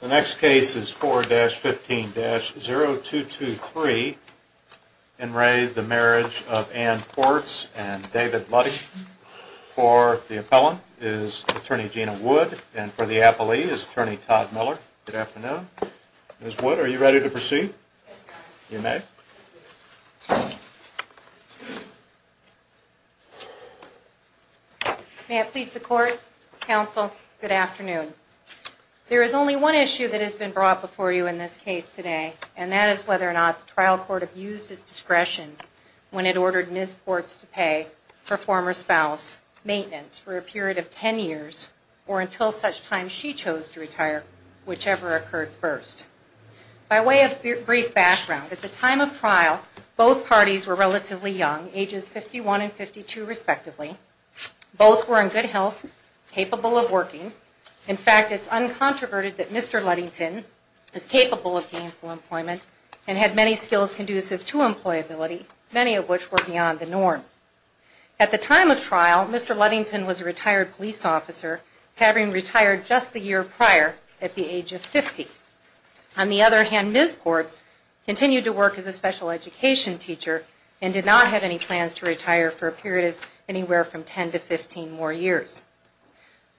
The next case is 4-15-0223. In re of the marriage of Anne Portz and David Luddy. For the appellant is Attorney Gina Wood and for the appellee is Attorney Todd Miller. Good afternoon. Ms. Wood, are you ready to proceed? Yes, Your Honor. You may. May it please the Court, Counsel, good afternoon. There is only one issue that has been brought before you in this case today and that is whether or not the trial court abused its discretion when it ordered Ms. Portz to pay her former spouse maintenance for a period of 10 years or until such time she chose to retire, whichever occurred first. By way of brief background, at the time of trial, both parties were relatively young, ages 51 and 52 respectively. Both were in good health, capable of working. In fact, it's uncontroverted that Mr. Luddington is capable of gainful employment and had many skills conducive to employability, many of which were beyond the norm. At the time of trial, Mr. Luddington was a retired police officer, having retired just the year prior at the age of 50. On the other hand, Ms. Portz continued to work as a special education teacher and did not have any plans to retire for a period of anywhere from 10 to 15 more years.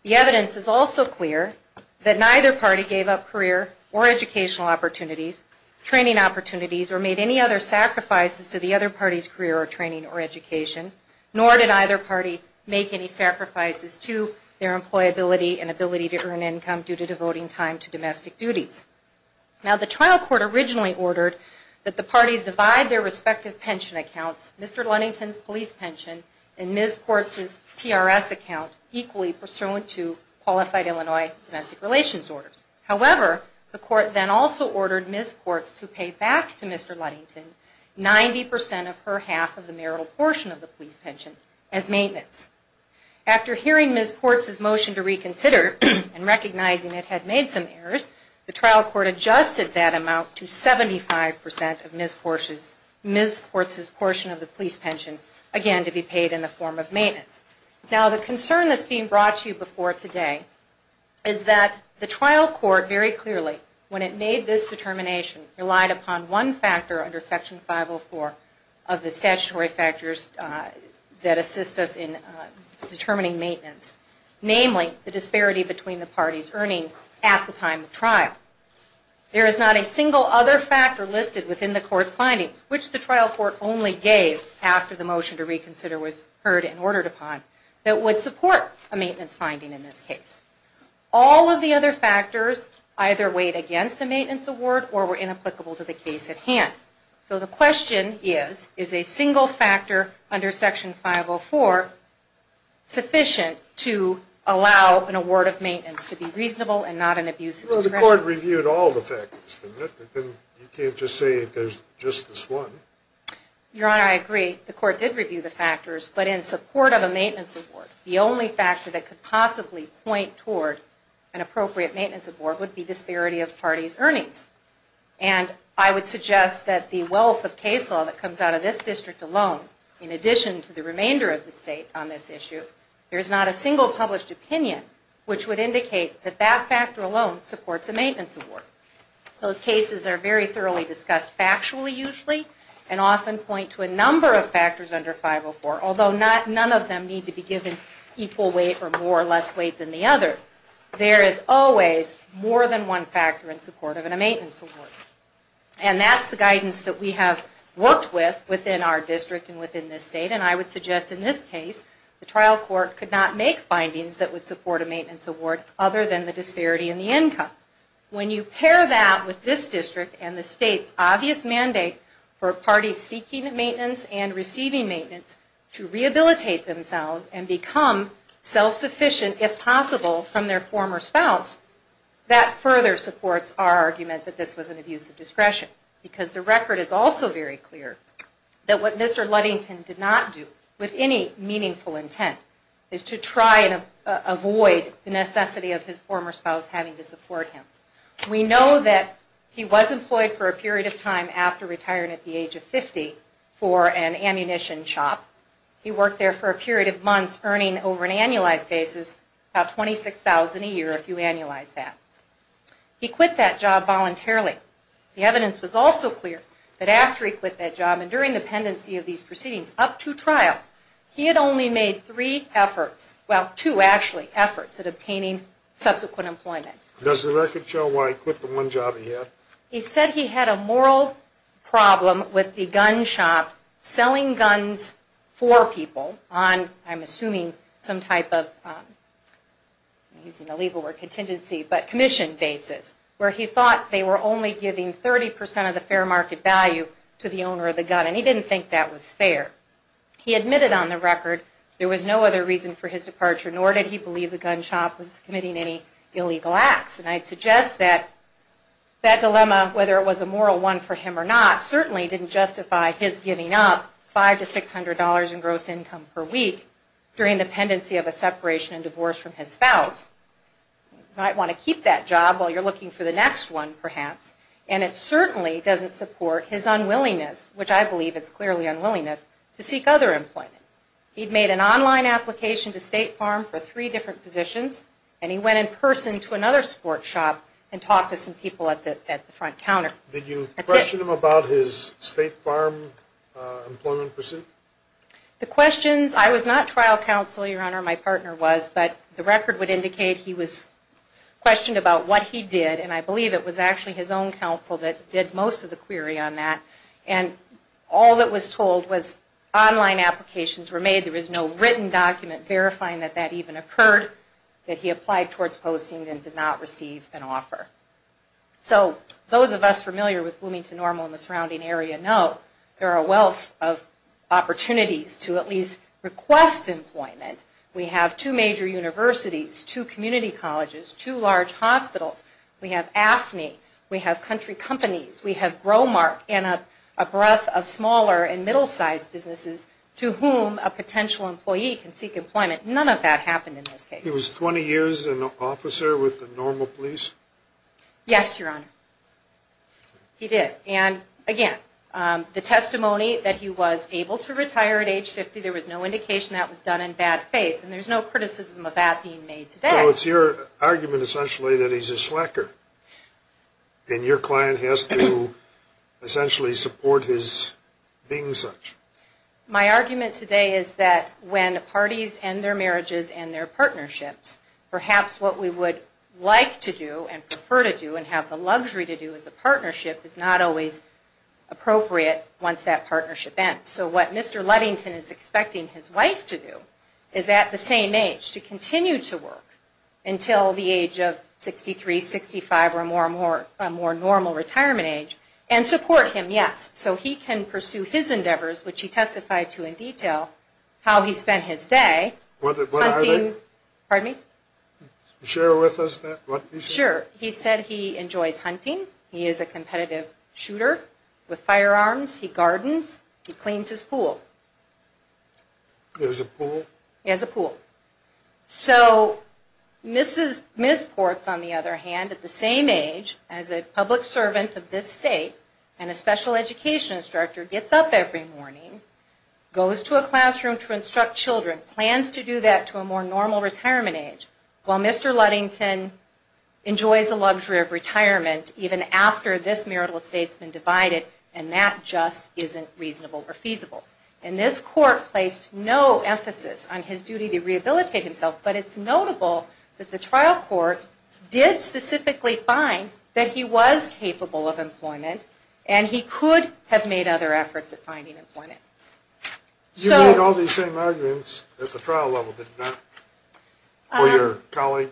The evidence is also clear that neither party gave up career or educational opportunities, training opportunities, or made any other sacrifices to the other party's career or training or education, nor did either party make any sacrifices to their employability and ability to earn income due to devoting time to domestic duties. Now, the trial court originally ordered that the parties divide their respective pension accounts, Mr. Luddington's police pension and Ms. Portz's TRS account, equally pursuant to qualified Illinois domestic relations orders. However, the court then also ordered Ms. Portz to pay back to Mr. Luddington 90% of her half of the marital portion of the police pension as maintenance. After hearing Ms. Portz's motion to reconsider and recognizing it had made some errors, the trial court adjusted that amount to 75% of Ms. Portz's portion of the police pension, again to be paid in the form of maintenance. Now, the concern that's being brought to you before today is that the trial court very clearly, when it made this determination, relied upon one factor under Section 504 of the statutory factors that assist us in determining maintenance, namely the disparity between the parties earning at the time of trial. There is not a single other factor listed within the court's findings, which the trial court only gave after the motion to reconsider was heard and ordered upon, that would support a maintenance finding in this case. All of the other factors either weighed against a maintenance award or were inapplicable to the case at hand. So the question is, is a single factor under Section 504 sufficient to allow an award of maintenance to be reasonable and not an abuse of discretion? Well, the court reviewed all the factors, didn't it? You can't just say there's just this one. Your Honor, I agree, the court did review the factors, but in support of a maintenance award, the only factor that could possibly point toward an appropriate maintenance award would be disparity of parties' earnings. And I would suggest that the wealth of case law that comes out of this district alone, in addition to the remainder of the state on this issue, there's not a single published opinion which would indicate that that factor alone supports a maintenance award. Those cases are very thoroughly discussed factually, usually, and often point to a number of factors under 504, although none of them need to be given equal weight or more or less weight than the other. There is always more than one factor in support of a maintenance award. And that's the guidance that we have worked with within our district and within this state, and I would suggest in this case, the trial court could not make findings that would support a maintenance award other than the disparity in the income. When you pair that with this district and the state's obvious mandate for parties seeking maintenance and receiving maintenance to rehabilitate themselves and become self-sufficient, if possible, from their former spouse, that further supports our argument that this was an abuse of discretion. Because the record is also very clear that what Mr. Ludington did not do with any meaningful intent is to try and avoid the necessity of his former spouse having to support him. We know that he was employed for a period of time after retiring at the age of 50 for an ammunition shop. He worked there for a period of months earning, over an annualized basis, about $26,000 a year, if you annualize that. He quit that job voluntarily. The evidence was also clear that after he quit that job and during the pendency of these proceedings up to trial, he had only made three efforts, well, two actually, efforts at obtaining subsequent employment. Does the record show why he quit the one job he had? He said he had a moral problem with the gun shop selling guns for people on, I'm assuming, some type of commission basis where he thought they were only giving 30% of the fair market value to the owner of the gun and he didn't think that was fair. He admitted on the record there was no other reason for his departure, nor did he believe the gun shop was committing any illegal acts. And I'd suggest that that dilemma, whether it was a moral one for him or not, certainly didn't justify his giving up $500 to $600 in gross income per week during the pendency of a separation and divorce from his spouse. You might want to keep that job while you're looking for the next one, perhaps. And it certainly doesn't support his unwillingness, which I believe it's clearly unwillingness, to seek other employment. He'd made an online application to State Farm for three different positions and he went in person to another sports shop and talked to some people at the front counter. Did you question him about his State Farm employment pursuit? The questions, I was not trial counsel, Your Honor, my partner was, but the record would indicate he was questioned about what he did and I believe it was actually his own counsel that did most of the query on that. And all that was told was online applications were made, there was no written document verifying that that even occurred, that he applied towards posting and did not receive an offer. So those of us familiar with Bloomington Normal and the surrounding area know there are a wealth of opportunities to at least request employment. We have two major universities, two community colleges, two large hospitals. We have AFNI. We have country companies. We have Growmark and a breadth of smaller and middle-sized businesses to whom a potential employee can seek employment. None of that happened in this case. He was 20 years an officer with the Normal Police? Yes, Your Honor. He did. And again, the testimony that he was able to retire at age 50, there was no indication that was done in bad faith and there's no criticism of that being made today. So it's your argument essentially that he's a slacker and your client has to essentially support his being such? My argument today is that when parties end their marriages and their partnerships, perhaps what we would like to do and prefer to do and have the luxury to do as a partnership is not always appropriate once that partnership ends. So what Mr. Ludington is expecting his wife to do is at the same age to continue to work until the age of 63, 65 or a more normal retirement age and support him, yes. So he can pursue his endeavors, which he testified to in detail, how he spent his day. What are they? Pardon me? Share with us that? Sure. He said he enjoys hunting. He is a competitive shooter with firearms. He gardens. He cleans his pool. He has a pool? He has a pool. So Ms. Ports, on the other hand, at the same age as a public servant of this state and a special education instructor, gets up every morning, goes to a classroom to instruct children, plans to do that to a more normal retirement age. While Mr. Ludington enjoys the luxury of retirement even after this marital estate has been divided and that just isn't reasonable or feasible. And this court placed no emphasis on his duty to rehabilitate himself, but it's notable that the trial court did specifically find that he was capable of employment and he could have made other efforts at finding employment. You made all these same arguments at the trial level, did you not? Or your colleague?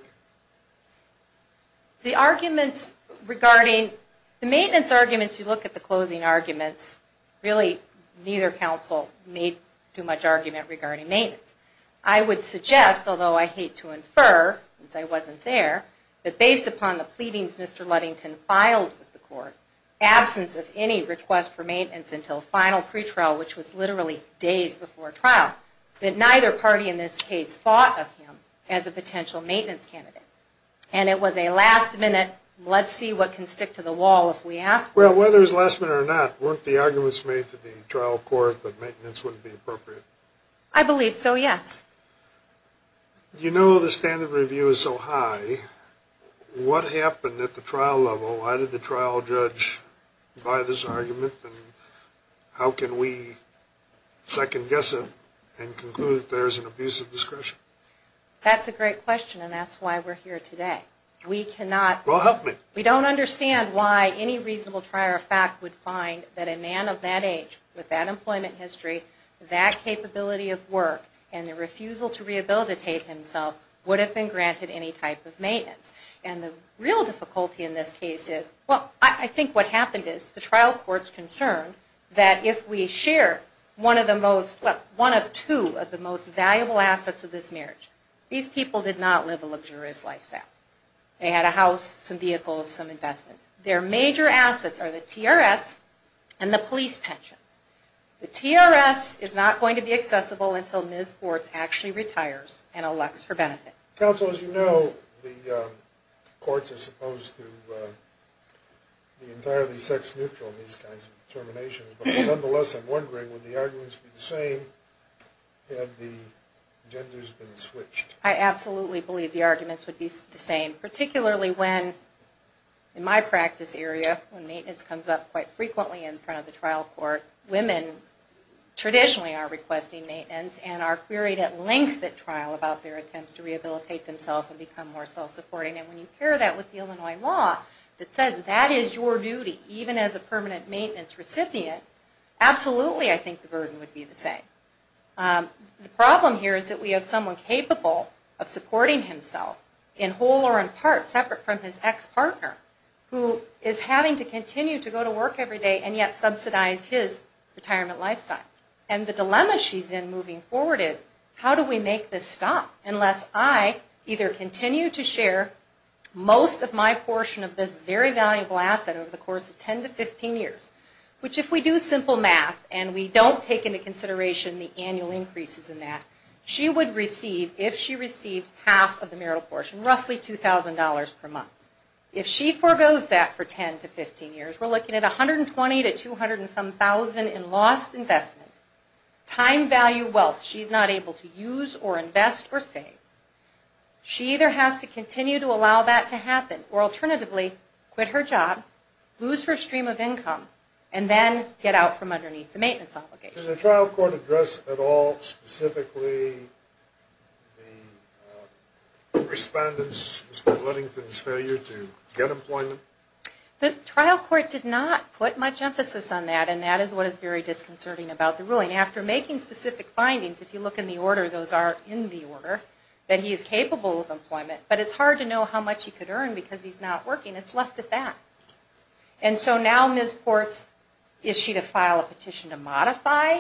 The arguments regarding the maintenance arguments, you look at the closing arguments, really neither counsel made too much argument regarding maintenance. I would suggest, although I hate to infer since I wasn't there, that based upon the pleadings Mr. Ludington filed with the court, absence of any request for maintenance until final pretrial, which was literally days before trial, that neither party in this case thought of him as a potential maintenance candidate. And it was a last minute, let's see what can stick to the wall if we ask for it. Well, whether it was last minute or not, weren't the arguments made to the trial court that maintenance wouldn't be appropriate? I believe so, yes. You know the standard of review is so high, what happened at the trial level? Why did the trial judge buy this argument and how can we second guess it and conclude that there is an abuse of discretion? That's a great question and that's why we're here today. Well, help me. We don't understand why any reasonable trier of fact would find that a man of that age, with that employment history, that capability of work, and the refusal to rehabilitate himself would have been granted any type of maintenance. And the real difficulty in this case is, well, I think what happened is the trial court's concerned that if we share one of the most, well, one of two of the most valuable assets of this marriage, these people did not live a luxurious lifestyle. They had a house, some vehicles, some investments. Their major assets are the TRS and the police pension. The TRS is not going to be accessible until Ms. Bortz actually retires and elects for benefit. Counsel, as you know, the courts are supposed to be entirely sex neutral in these kinds of determinations, but nonetheless, I'm wondering, would the arguments be the same had the genders been switched? I absolutely believe the arguments would be the same, particularly when, in my practice area, when maintenance comes up quite frequently in front of the trial court, women traditionally are requesting maintenance and are queried at length at trial about their attempts to rehabilitate themselves and become more self-supporting. And when you pair that with the Illinois law that says that is your duty, even as a permanent maintenance recipient, absolutely I think the burden would be the same. The problem here is that we have someone capable of supporting himself in whole or in part, separate from his ex-partner, who is having to continue to go to work every day and yet subsidize his retirement lifestyle. And the dilemma she's in moving forward is, how do we make this stop unless I either continue to share most of my portion of this very valuable asset over the course of 10 to 15 years, which if we do simple math and we don't take into consideration the annual increases in that, she would receive, if she received half of the marital portion, roughly $2,000 per month. If she foregoes that for 10 to 15 years, we're looking at $120,000 to $200,000 and some thousand in lost investment. Time, value, wealth, she's not able to use or invest or save. She either has to continue to allow that to happen or alternatively quit her job, lose her stream of income, and then get out from underneath the maintenance obligation. Can the trial court address at all specifically the respondent's, Mr. Ludington's, failure to get employment? The trial court did not put much emphasis on that and that is what is very disconcerting about the ruling. After making specific findings, if you look in the order, those are in the order, that he is capable of employment, but it's hard to know how much he could earn because he's not working. It's left at that. And so now Ms. Ports, is she to file a petition to modify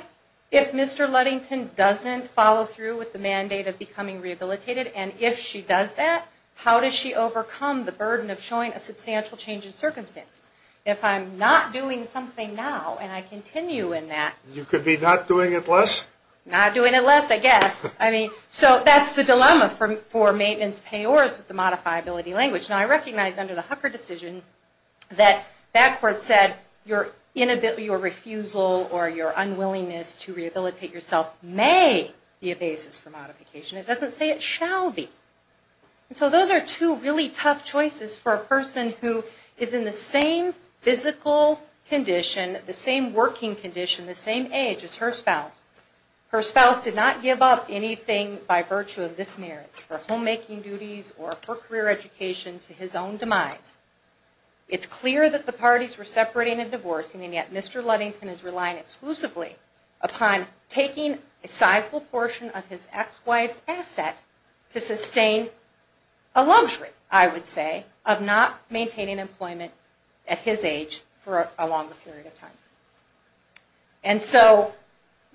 if Mr. Ludington doesn't follow through with the mandate of becoming rehabilitated? And if she does that, how does she overcome the burden of showing a substantial change in circumstance? If I'm not doing something now and I continue in that... You could be not doing it less? Not doing it less, I guess. I mean, so that's the dilemma for maintenance payors with the modifiability language. Now I recognize under the Hucker decision that that court said your refusal or your unwillingness to rehabilitate yourself may be a basis for modification. It doesn't say it shall be. And so those are two really tough choices for a person who is in the same physical condition, the same working condition, the same age as her spouse. Her spouse did not give up anything by virtue of this marriage for homemaking duties or for career education to his own demise. It's clear that the parties were separating and divorcing and yet Mr. Ludington is relying exclusively upon taking a sizable portion of his ex-wife's asset to sustain a luxury, I would say, of not maintaining employment at his age for a longer period of time. And so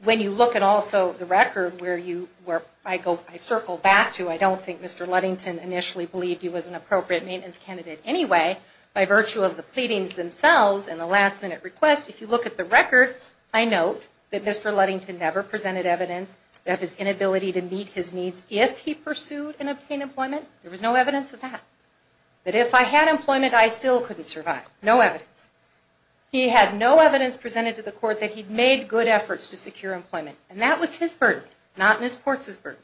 when you look at also the record where I circle back to, I don't think Mr. Ludington initially believed he was an appropriate maintenance candidate anyway. By virtue of the pleadings themselves and the last minute request, if you look at the record, I note that Mr. Ludington never presented evidence of his inability to meet his needs if he pursued and obtained employment. There was no evidence of that. That if I had employment, I still couldn't survive. No evidence. He had no evidence presented to the court that he'd made good efforts to secure employment. And that was his burden, not Ms. Portz's burden.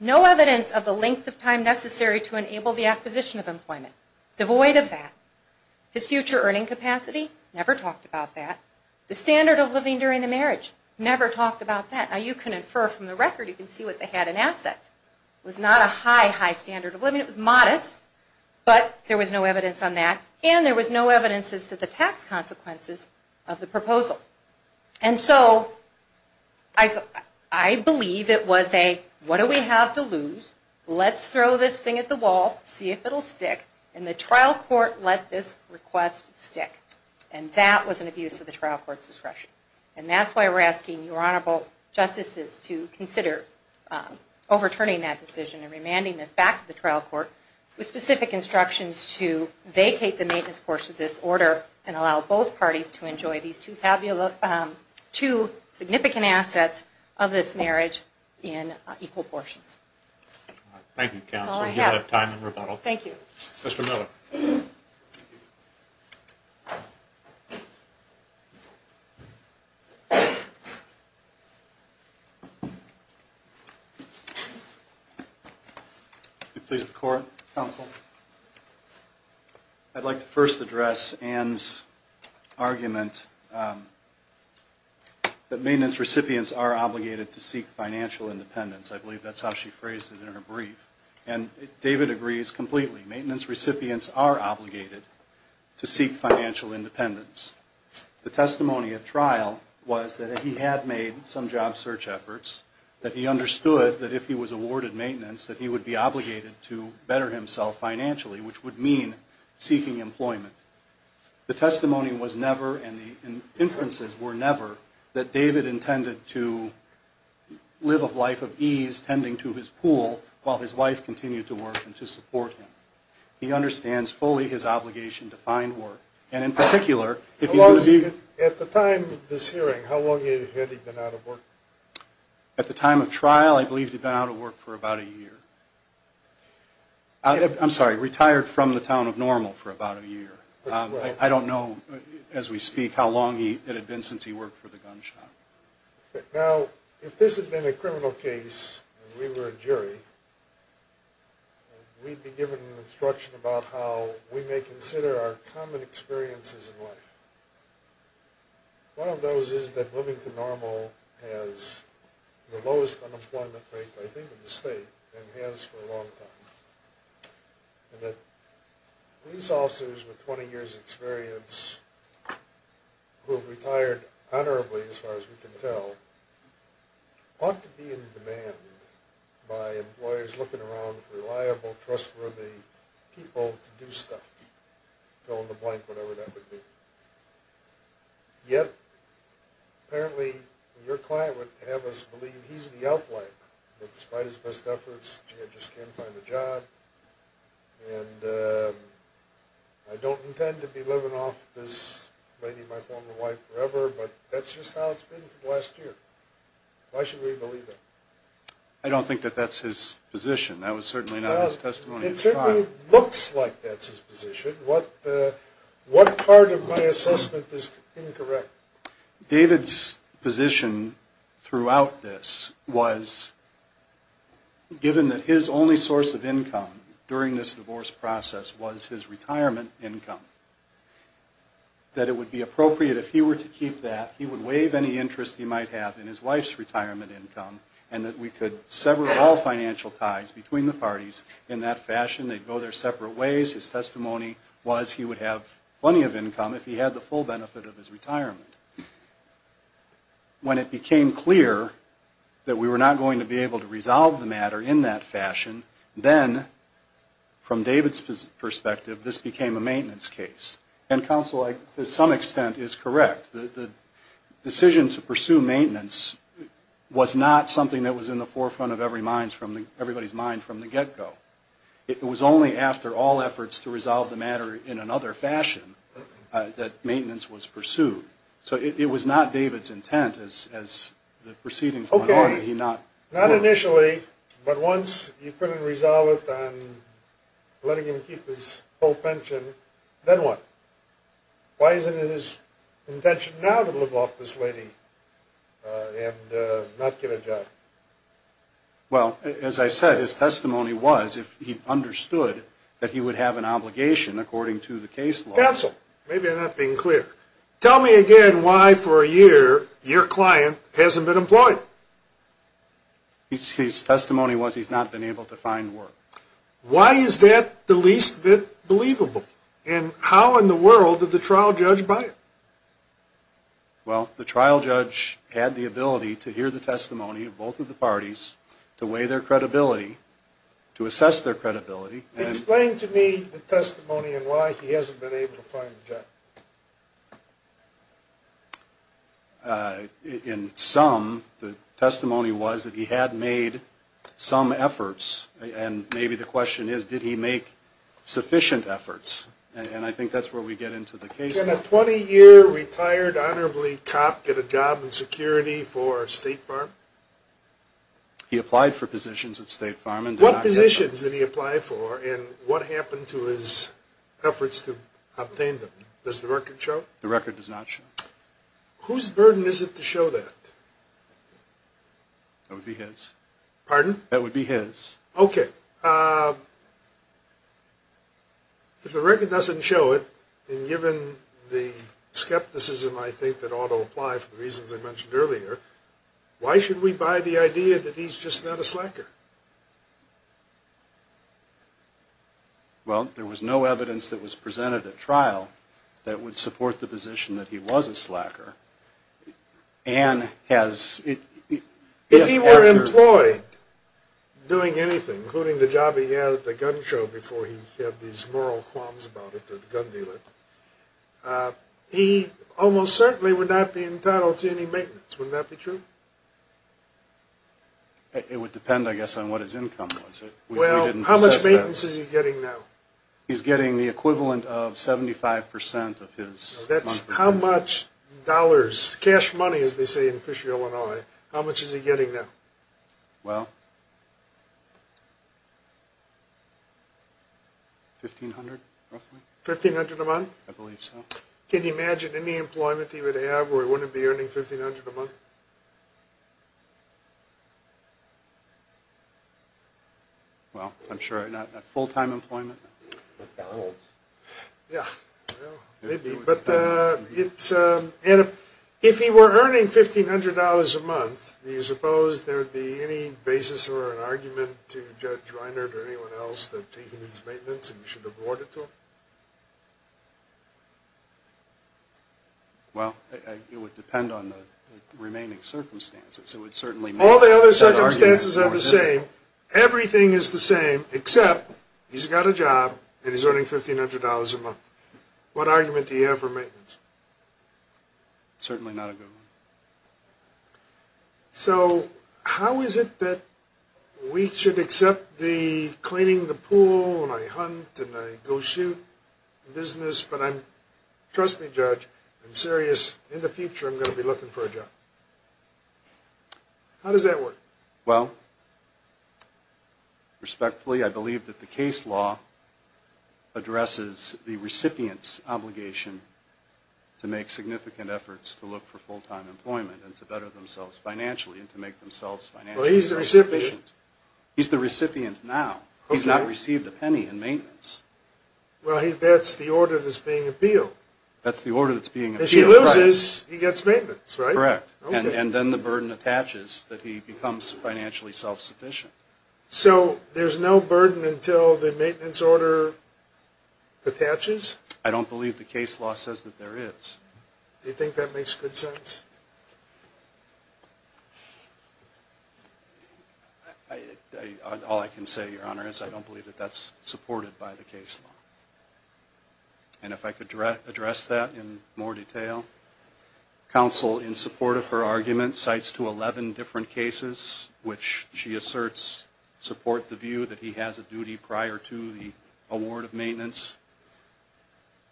No evidence of the length of time necessary to enable the acquisition of employment. Devoid of that. His future earning capacity, never talked about that. The standard of living during the marriage, never talked about that. Now you can infer from the record, you can see what they had in assets. It was not a high, high standard of living. It was modest, but there was no evidence on that. And there was no evidence as to the tax consequences of the proposal. And so, I believe it was a, what do we have to lose? Let's throw this thing at the wall, see if it'll stick. And the trial court let this request stick. And that was an abuse of the trial court's discretion. And that's why we're asking your Honorable Justices to consider overturning that decision and remanding this back to the trial court with specific instructions to vacate the maintenance portion of this order and allow both parties to enjoy these two significant assets of this marriage in equal portions. Thank you, Counsel. That's all I have. Thank you. Mr. Miller. Thank you. Please, the court. Counsel. I'd like to first address Anne's argument that maintenance recipients are obligated to seek financial independence. I believe that's how she phrased it in her brief. And David agrees completely. Maintenance recipients are obligated to seek financial independence. The testimony at trial was that he had made some job search efforts, that he understood that if he was awarded maintenance that he would be obligated to better himself financially, which would mean seeking employment. The testimony was never, and the inferences were never, that David intended to live a life of ease tending to his pool while his wife continued to work and to support him. He understands fully his obligation to find work. And in particular, if he's going to be- At the time of this hearing, how long had he been out of work? At the time of trial, I believe he'd been out of work for about a year. I'm sorry, retired from the town of Normal for about a year. I don't know, as we speak, how long it had been since he worked for the gun shop. Now, if this had been a criminal case and we were a jury, we'd be given instruction about how we may consider our common experiences in life. One of those is that living to Normal has the lowest unemployment rate, I think, in the state, and has for a long time. And that police officers with 20 years' experience, who have retired honorably, as far as we can tell, ought to be in demand by employers looking around for reliable, trustworthy people to do stuff. Fill in the blank, whatever that would be. Yet, apparently, your client would have us believe he's the outlier, that despite his best efforts, he just can't find a job. And I don't intend to be living off this lady, my former wife, forever, but that's just how it's been for the last year. Why should we believe that? I don't think that that's his position. That was certainly not his testimony. It certainly looks like that's his position. What part of my assessment is incorrect? David's position throughout this was, given that his only source of income during this divorce process was his retirement income, that it would be appropriate if he were to keep that, he would waive any interest he might have in his wife's retirement income, and that we could sever all financial ties between the parties in that fashion. They'd go their separate ways. His testimony was he would have plenty of income if he had the full benefit of his retirement. When it became clear that we were not going to be able to resolve the matter in that fashion, then, from David's perspective, this became a maintenance case. And counsel, to some extent, is correct. The decision to pursue maintenance was not something that was in the forefront of everybody's mind from the get-go. It was only after all efforts to resolve the matter in another fashion that maintenance was pursued. So it was not David's intent, as the proceedings went on. Not initially, but once you couldn't resolve it on letting him keep his full pension, then what? Why isn't it his intention now to live off this lady and not get a job? Well, as I said, his testimony was if he understood that he would have an obligation according to the case law. Counsel, maybe I'm not being clear. Tell me again why, for a year, your client hasn't been employed. His testimony was he's not been able to find work. Why is that the least bit believable? And how in the world did the trial judge buy it? Well, the trial judge had the ability to hear the testimony of both of the parties, to weigh their credibility, to assess their credibility. Explain to me the testimony and why he hasn't been able to find a job. In sum, the testimony was that he had made some efforts. And maybe the question is, did he make sufficient efforts? And I think that's where we get into the case. Did a 20-year retired honorably cop get a job in security for State Farm? He applied for positions at State Farm and did not get a job. What positions did he apply for and what happened to his efforts to obtain them? Does the record show? The record does not show. Whose burden is it to show that? That would be his. Pardon? That would be his. Okay. If the record doesn't show it, and given the skepticism I think that ought to apply for the reasons I mentioned earlier, why should we buy the idea that he's just not a slacker? Well, there was no evidence that was presented at trial that would support the position that he was a slacker. If he were employed doing anything, including the job he had at the gun show before he said these moral qualms about it to the gun dealer, he almost certainly would not be entitled to any maintenance. Wouldn't that be true? It would depend, I guess, on what his income was. Well, how much maintenance is he getting now? That's how much dollars, cash money as they say in Fisher, Illinois, how much is he getting now? Well, $1,500 roughly. $1,500 a month? I believe so. Can you imagine any employment he would have where he wouldn't be earning $1,500 a month? Well, I'm sure not full-time employment. Yeah, maybe. But if he were earning $1,500 a month, do you suppose there would be any basis or an argument to Judge Reiner or anyone else that taking his maintenance and you should award it to him? Well, it would depend on the remaining circumstances. All the other circumstances are the same. Everything is the same except he's got a job and he's earning $1,500 a month. What argument do you have for maintenance? Certainly not a good one. So how is it that we should accept the cleaning the pool and I hunt and I go shoot business, but I'm, trust me, Judge, I'm serious, in the future I'm going to be looking for a job. How does that work? Well, respectfully, I believe that the case law addresses the recipient's obligation to make significant efforts to look for full-time employment and to better themselves financially and to make themselves financially sufficient. Well, he's the recipient. He's the recipient now. He's not received a penny in maintenance. Well, that's the order that's being appealed. That's the order that's being appealed. If he loses, he gets maintenance, right? Correct. And then the burden attaches that he becomes financially self-sufficient. So there's no burden until the maintenance order attaches? I don't believe the case law says that there is. Do you think that makes good sense? All I can say, Your Honor, is I don't believe that that's supported by the case law. And if I could address that in more detail. Counsel, in support of her argument, cites to 11 different cases, which she asserts support the view that he has a duty prior to the award of maintenance.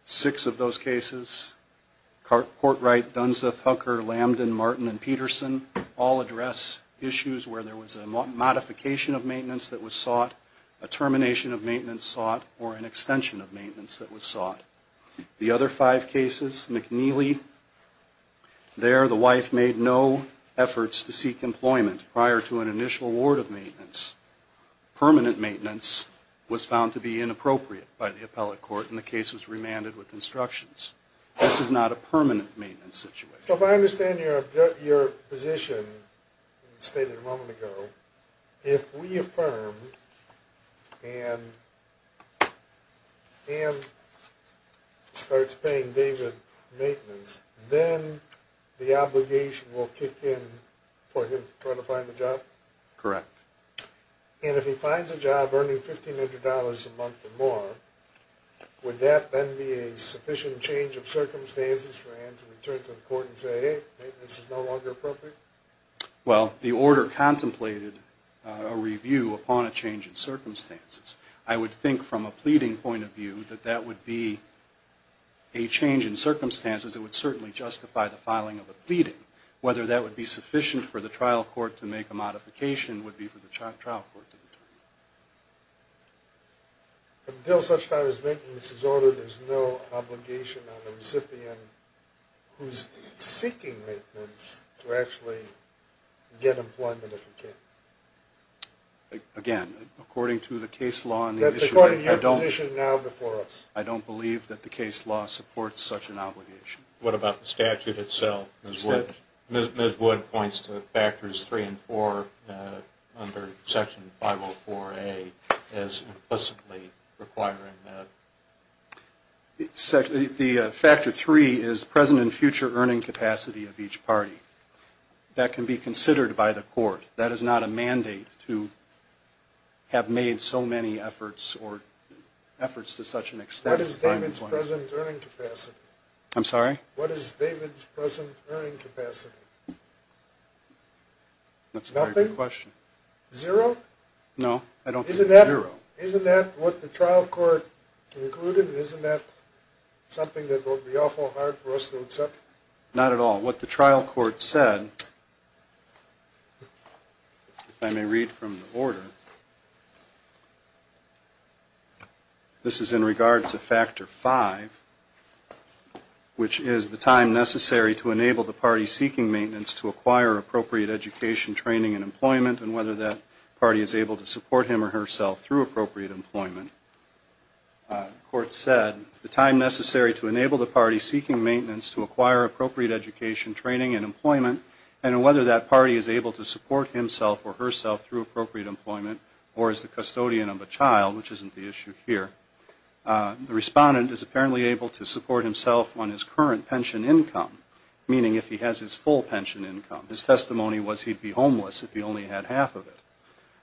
Six of those cases, Portwright, Dunseth, Hucker, Lambden, Martin, and Peterson, all address issues where there was a modification of maintenance that was sought, a termination of maintenance sought, or an extension of maintenance that was sought. The other five cases, McNeely, there the wife made no efforts to seek employment prior to an initial award of maintenance. Permanent maintenance was found to be inappropriate by the appellate court, and the case was remanded with instructions. This is not a permanent maintenance situation. So if I understand your position, you stated a moment ago, if we affirm and Ann starts paying David maintenance, then the obligation will kick in for him to try to find a job? Correct. And if he finds a job earning $1,500 a month or more, would that then be a sufficient change of circumstances for Ann to return to the court and say, hey, maintenance is no longer appropriate? Well, the order contemplated a review upon a change in circumstances. I would think from a pleading point of view that that would be a change in circumstances that would certainly justify the filing of a pleading. Whether that would be sufficient for the trial court to make a modification would be for the trial court to determine. Until such time as maintenance is ordered, there's no obligation on the recipient who's seeking maintenance to actually get employment if he can. Again, according to the case law and the issue... That's according to your position now before us. I don't believe that the case law supports such an obligation. What about the statute itself? Ms. Wood points to factors three and four under section 504A as implicitly requiring that. The factor three is present and future earning capacity of each party. That can be considered by the court. That is not a mandate to have made so many efforts or efforts to such an extent. What is David's present earning capacity? I'm sorry? What is David's present earning capacity? That's a very good question. Zero? No, I don't think zero. Isn't that what the trial court concluded? Isn't that something that will be awful hard for us to accept? Not at all. What the trial court said, if I may read from the order... ...is factor 5, which is the time necessary to enable the party seeking maintenance to acquire appropriate education, training, and employment, and whether that party is able to support himself or herself through appropriate employment. The court said, the time necessary to enable the party seeking maintenance to acquire appropriate education, training, and employment and whether that party is able to support himself or herself through appropriate employment or is the custodian of a child, which isn't the issue here. The respondent is apparently able to support himself on his current pension income, meaning if he has his full pension income. His testimony was he'd be homeless if he only had half of it.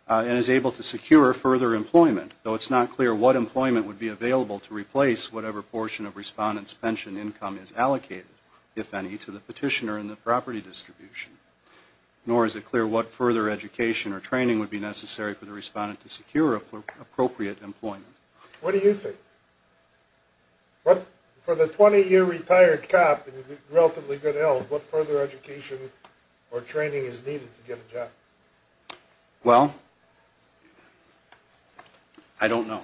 And is able to secure further employment, though it's not clear what employment would be available to replace whatever portion of the respondent's pension income is allocated, if any, to the petitioner in the property distribution. Nor is it clear what further education or training would be necessary for the respondent to secure appropriate employment. What do you think? For the 20-year retired cop and relatively good health, what further education or training is needed to get a job? Well, I don't know.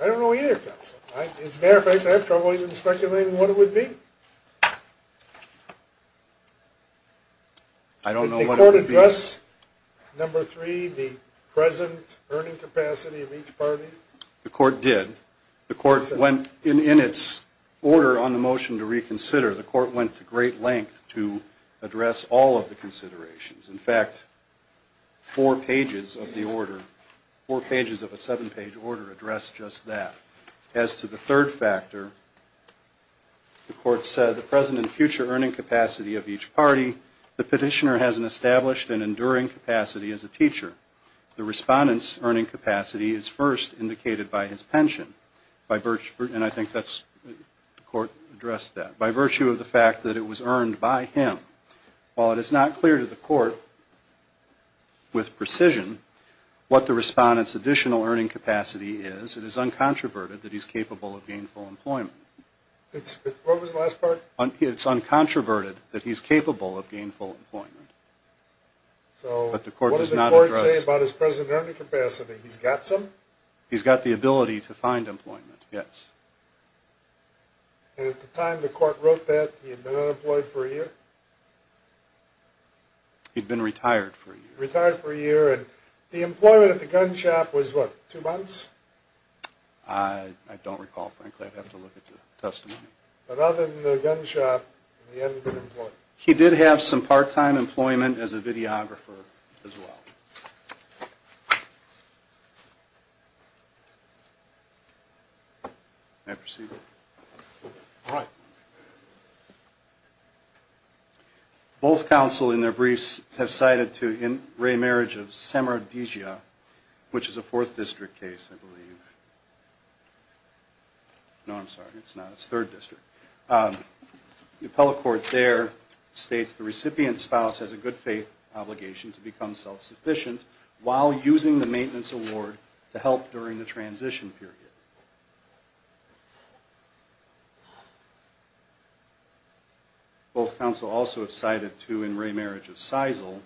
I don't know either, Counselor. As a matter of fact, I have trouble even speculating what it would be. I don't know what it would be. Did the court address, number three, the present earning capacity of each party? The court did. The court went, in its order on the motion to reconsider, the court went to great length to address all of the considerations. In fact, four pages of the order, four pages of a seven-page order, addressed just that. As to the third factor, the court said the present and future earning capacity of each party. The petitioner has an established and enduring capacity as a teacher. The respondent's earning capacity is first indicated by his pension. And I think the court addressed that. By virtue of the fact that it was earned by him, while it is not clear to the court with precision what the respondent's additional earning capacity is, it is uncontroverted that he's capable of gainful employment. What was the last part? It's uncontroverted that he's capable of gainful employment. What does the court say about his present earning capacity? He's got some? He's got the ability to find employment, yes. And at the time the court wrote that, he had been unemployed for a year? He'd been retired for a year. Retired for a year. And the employment at the gun shop was what, two months? I don't recall, frankly. I'd have to look at the testimony. But other than the gun shop, he hadn't been employed? He did have some part-time employment as a videographer as well. May I proceed? All right. Both counsel in their briefs have cited to in re-marriage of Samardizia, which is a Fourth District case, I believe. No, I'm sorry, it's not. It's Third District. The appellate court there states the recipient's spouse has a good faith obligation to become self-sufficient while using the maintenance award to help during the transition period. Both counsel also have cited to in re-marriage of Seisel,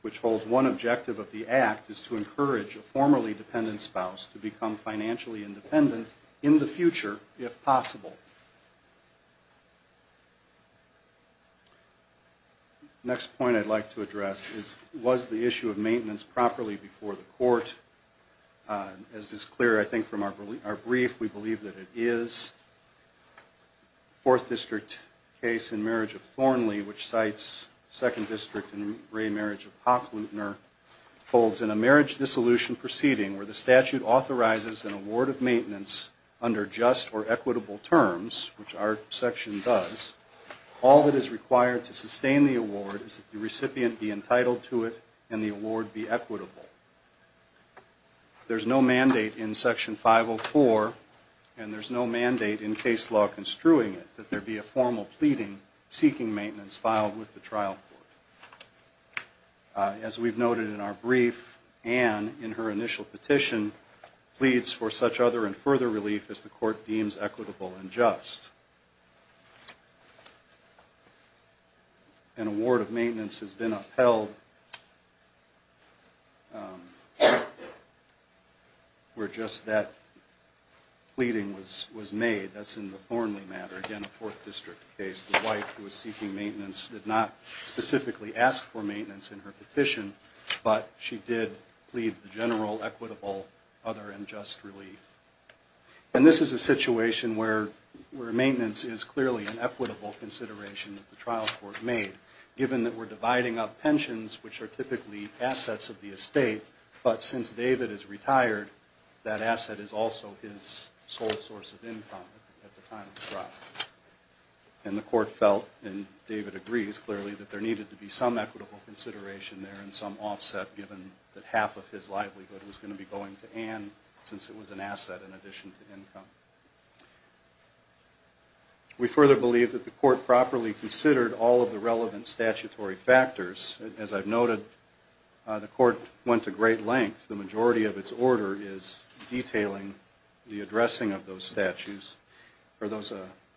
which holds one objective of the act is to encourage a formerly dependent spouse to become financially independent in the future, if possible. Next point I'd like to address is, was the issue of maintenance properly before the court? As is clear, I think, from our brief, we believe that it is. Fourth District case in marriage of Thornley, which cites Second District in re-marriage of Hocklutner, holds in a marriage dissolution proceeding where the statute authorizes an award of maintenance under just or equitable terms, which our section does, all that is required to sustain the award is that the recipient be entitled to it and the award be equitable. There's no mandate in Section 504, and there's no mandate in case law construing it, that there be a formal pleading seeking maintenance filed with the trial court. As we've noted in our brief, Anne, in her initial petition, pleads for such other and further relief as the court deems equitable and just. An award of maintenance has been upheld where just that pleading was made. That's in the Thornley matter, again a Fourth District case. The wife who was seeking maintenance did not specifically ask for maintenance in her petition, but she did plead the general, equitable, other, and just relief. And this is a situation where maintenance is clearly an equitable consideration that the trial court made, given that we're dividing up pensions, which are typically assets of the estate, but since David is retired, that asset is also his sole source of income at the time of the trial. And the court felt, and David agrees clearly, that there needed to be some equitable consideration there and some offset, given that half of his livelihood was going to be going to Anne, since it was an asset in addition to income. We further believe that the court properly considered all of the relevant statutory factors. As I've noted, the court went to great lengths. The majority of its order is detailing the addressing of those statutes, or those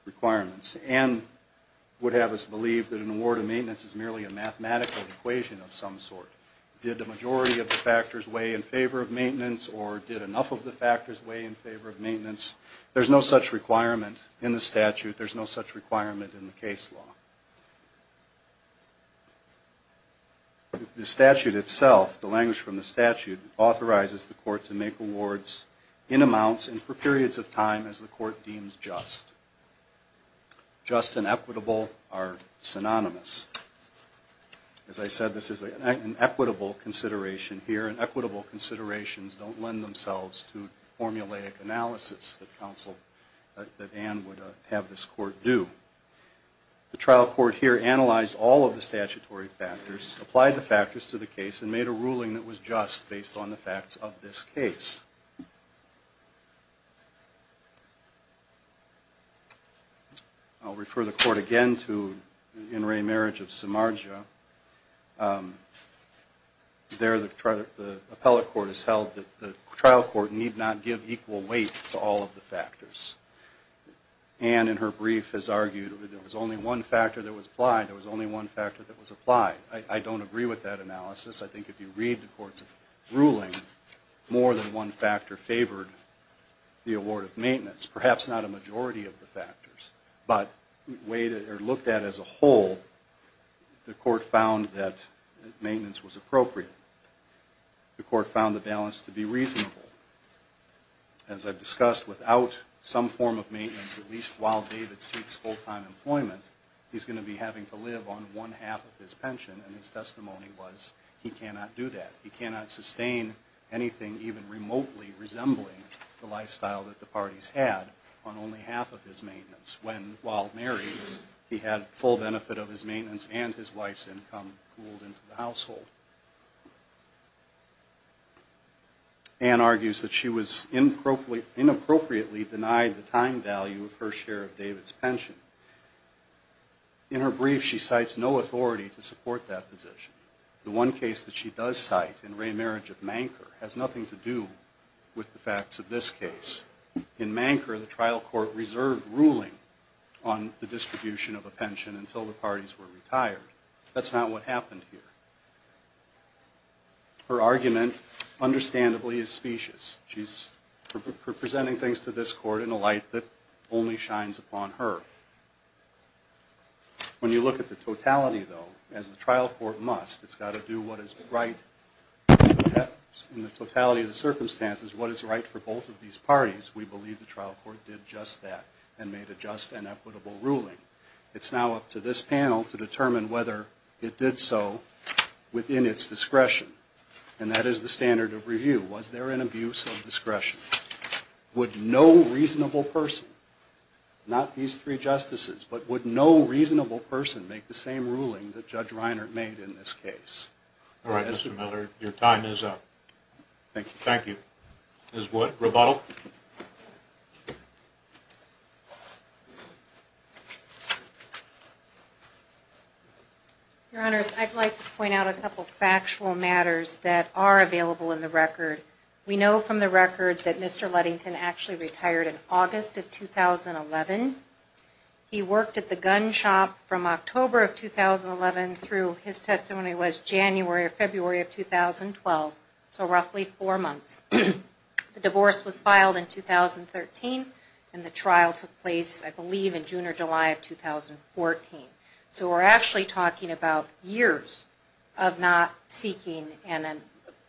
requirements. Anne would have us believe that an award of maintenance is merely a mathematical equation of some sort. Did the majority of the factors weigh in favor of maintenance, or did enough of the factors weigh in favor of maintenance? There's no such requirement in the statute. There's no such requirement in the case law. The statute itself, the language from the statute, authorizes the court to make awards in amounts and for periods of time as the court deems just. Just and equitable are synonymous. As I said, this is an equitable consideration here, and equitable considerations don't lend themselves to formulaic analysis that Anne would have this court do. The trial court here analyzed all of the statutory factors, applied the factors to the case, and made a ruling that was just based on the facts of this case. I'll refer the court again to In Re Marriage of Samarja. There, the appellate court has held that the trial court need not give equal weight to all of the factors. Anne, in her brief, has argued that there was only one factor that was applied. There was only one factor that was applied. I don't agree with that analysis. I think if you read the court's ruling, more than one factor favored the award of maintenance. Perhaps not a majority of the factors, but looked at as a whole, the court found that maintenance was appropriate. The court found the balance to be reasonable. As I've discussed, without some form of maintenance, at least while David seeks full-time employment, he's going to be having to live on one half of his pension, and his testimony was he cannot do that. He cannot sustain anything even remotely resembling the lifestyle that the parties had on only half of his maintenance, when, while married, he had full benefit of his maintenance and his wife's income pooled into the household. Anne argues that she was inappropriately denied the time value of her share of David's pension. In her brief, she cites no authority to support that position. The one case that she does cite, in Ray Marriage of Manker, has nothing to do with the facts of this case. In Manker, the trial court reserved ruling on the distribution of a pension until the parties were retired. That's not what happened here. Her argument, understandably, is specious. She's presenting things to this court in a light that only shines upon her. When you look at the totality, though, as the trial court must, it's got to do what is right in the totality of the circumstances, what is right for both of these parties. We believe the trial court did just that and made a just and equitable ruling. It's now up to this panel to determine whether it did so within its discretion, and that is the standard of review. Was there an abuse of discretion? Would no reasonable person, not these three justices, but would no reasonable person make the same ruling that Judge Reinert made in this case? All right, Mr. Miller, your time is up. Thank you. Thank you. Ms. Wood, rebuttal? Your Honors, I'd like to point out a couple factual matters that are available in the record. We know from the record that Mr. Ludington actually retired in August of 2011. He worked at the gun shop from October of 2011 through, his testimony was January or February of 2012, so roughly four months. The divorce was filed in 2013, and the trial took place, I believe, in June or July of 2014. So we're actually talking about years of not seeking and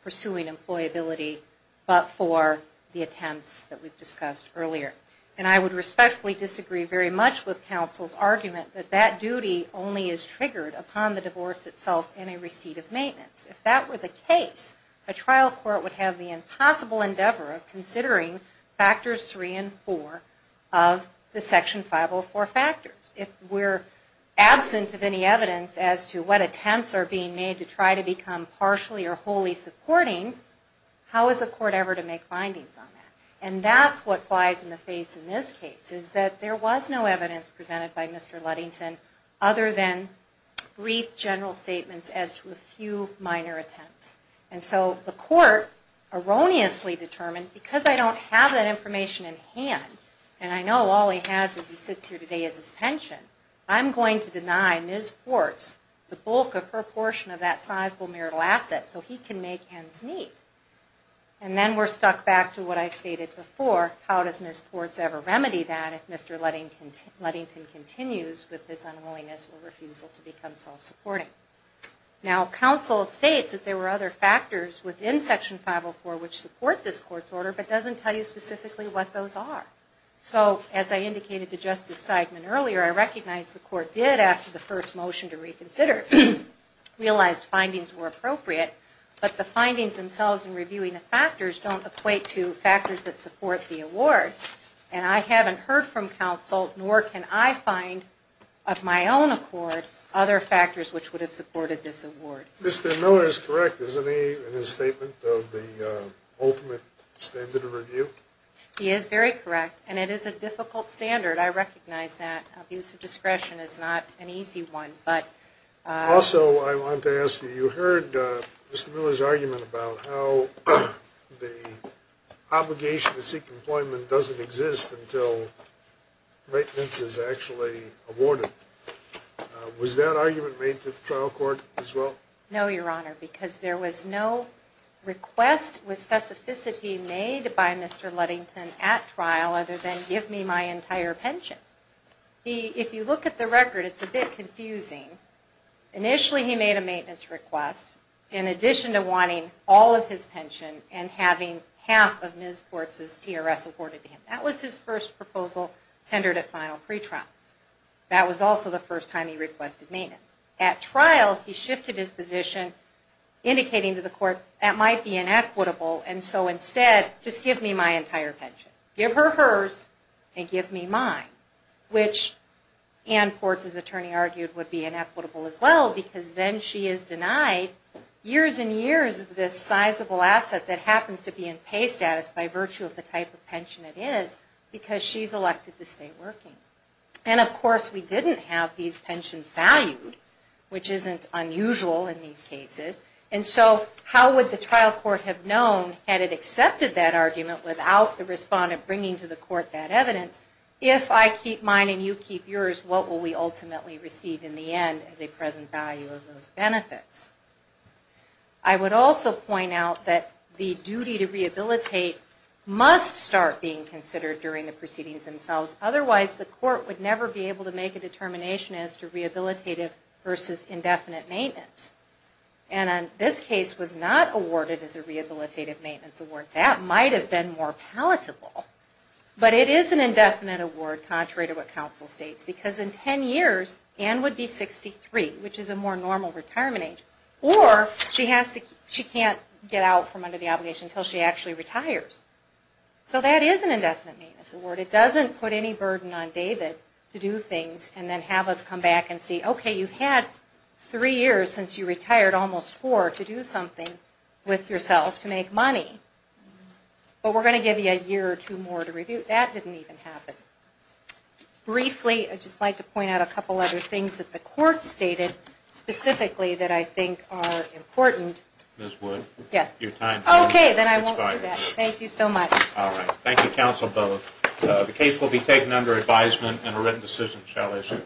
pursuing employability, but for the attempts that we've discussed earlier. And I would respectfully disagree very much with counsel's argument that that duty only is triggered upon the divorce itself and a receipt of maintenance. If that were the case, a trial court would have the impossible endeavor of considering factors three and four of the Section 504 factors. If we're absent of any evidence as to what attempts are being made to try to become partially or wholly supporting, how is a court ever to make findings on that? And that's what flies in the face in this case, is that there was no evidence presented by Mr. Ludington other than brief general statements as to a few minor attempts. And so the court erroneously determined, because I don't have that information in hand, and I know all he has as he sits here today is his pension, I'm going to deny Ms. Ports the bulk of her portion of that sizable marital asset so he can make ends meet. And then we're stuck back to what I stated before, how does Ms. Ports ever remedy that if Mr. Ludington continues with his unwillingness or refusal to become self-supporting? Now, counsel states that there were other factors within Section 504 which support this court's order, but doesn't tell you specifically what those are. So, as I indicated to Justice Steigman earlier, I recognize the court did, after the first motion to reconsider, realize findings were appropriate, but the findings themselves in reviewing the factors don't equate to factors that support the award. And I haven't heard from counsel, nor can I find of my own accord, other factors which would have supported this award. Mr. Miller is correct. Isn't he in his statement of the ultimate standard of review? He is very correct, and it is a difficult standard. I recognize that. Abuse of discretion is not an easy one. Also, I want to ask you, you heard Mr. Miller's argument about how the obligation to seek employment doesn't exist until maintenance is actually awarded. Was that argument made to the trial court as well? No, Your Honor, because there was no request with specificity made by Mr. Luddington at trial other than give me my entire pension. If you look at the record, it's a bit confusing. Initially, he made a maintenance request, in addition to wanting all of his pension and having half of Ms. Quartz's TRS awarded to him. That was his first proposal tendered at final pretrial. That was also the first time he requested maintenance. At trial, he shifted his position, indicating to the court that might be inequitable, and so instead, just give me my entire pension. Give her hers, and give me mine, which Ann Quartz's attorney argued would be inequitable as well because then she is denied years and years of this sizable asset that happens to be in pay status by virtue of the type of pension it is because she's elected to stay working. Of course, we didn't have these pensions valued, which isn't unusual in these cases. How would the trial court have known, had it accepted that argument without the respondent bringing to the court that evidence, if I keep mine and you keep yours, what will we ultimately receive in the end as a present value of those benefits? I would also point out that the duty to rehabilitate must start being considered during the proceedings themselves. Otherwise, the court would never be able to make a determination as to rehabilitative versus indefinite maintenance. This case was not awarded as a rehabilitative maintenance award. That might have been more palatable, but it is an indefinite award, contrary to what counsel states, because in 10 years, Ann would be 63, which is a more normal retirement age, or she can't get out from under the obligation until she actually retires. So that is an indefinite maintenance award. It doesn't put any burden on David to do things and then have us come back and see, okay, you've had three years since you retired, almost four, to do something with yourself to make money. But we're going to give you a year or two more to review. That didn't even happen. Briefly, I'd just like to point out a couple other things that the court stated, specifically, that I think are important. Ms. Wood? Okay, then I won't do that. Thank you so much. Thank you, counsel, both. The case will be taken under advisement, and a written decision shall issue.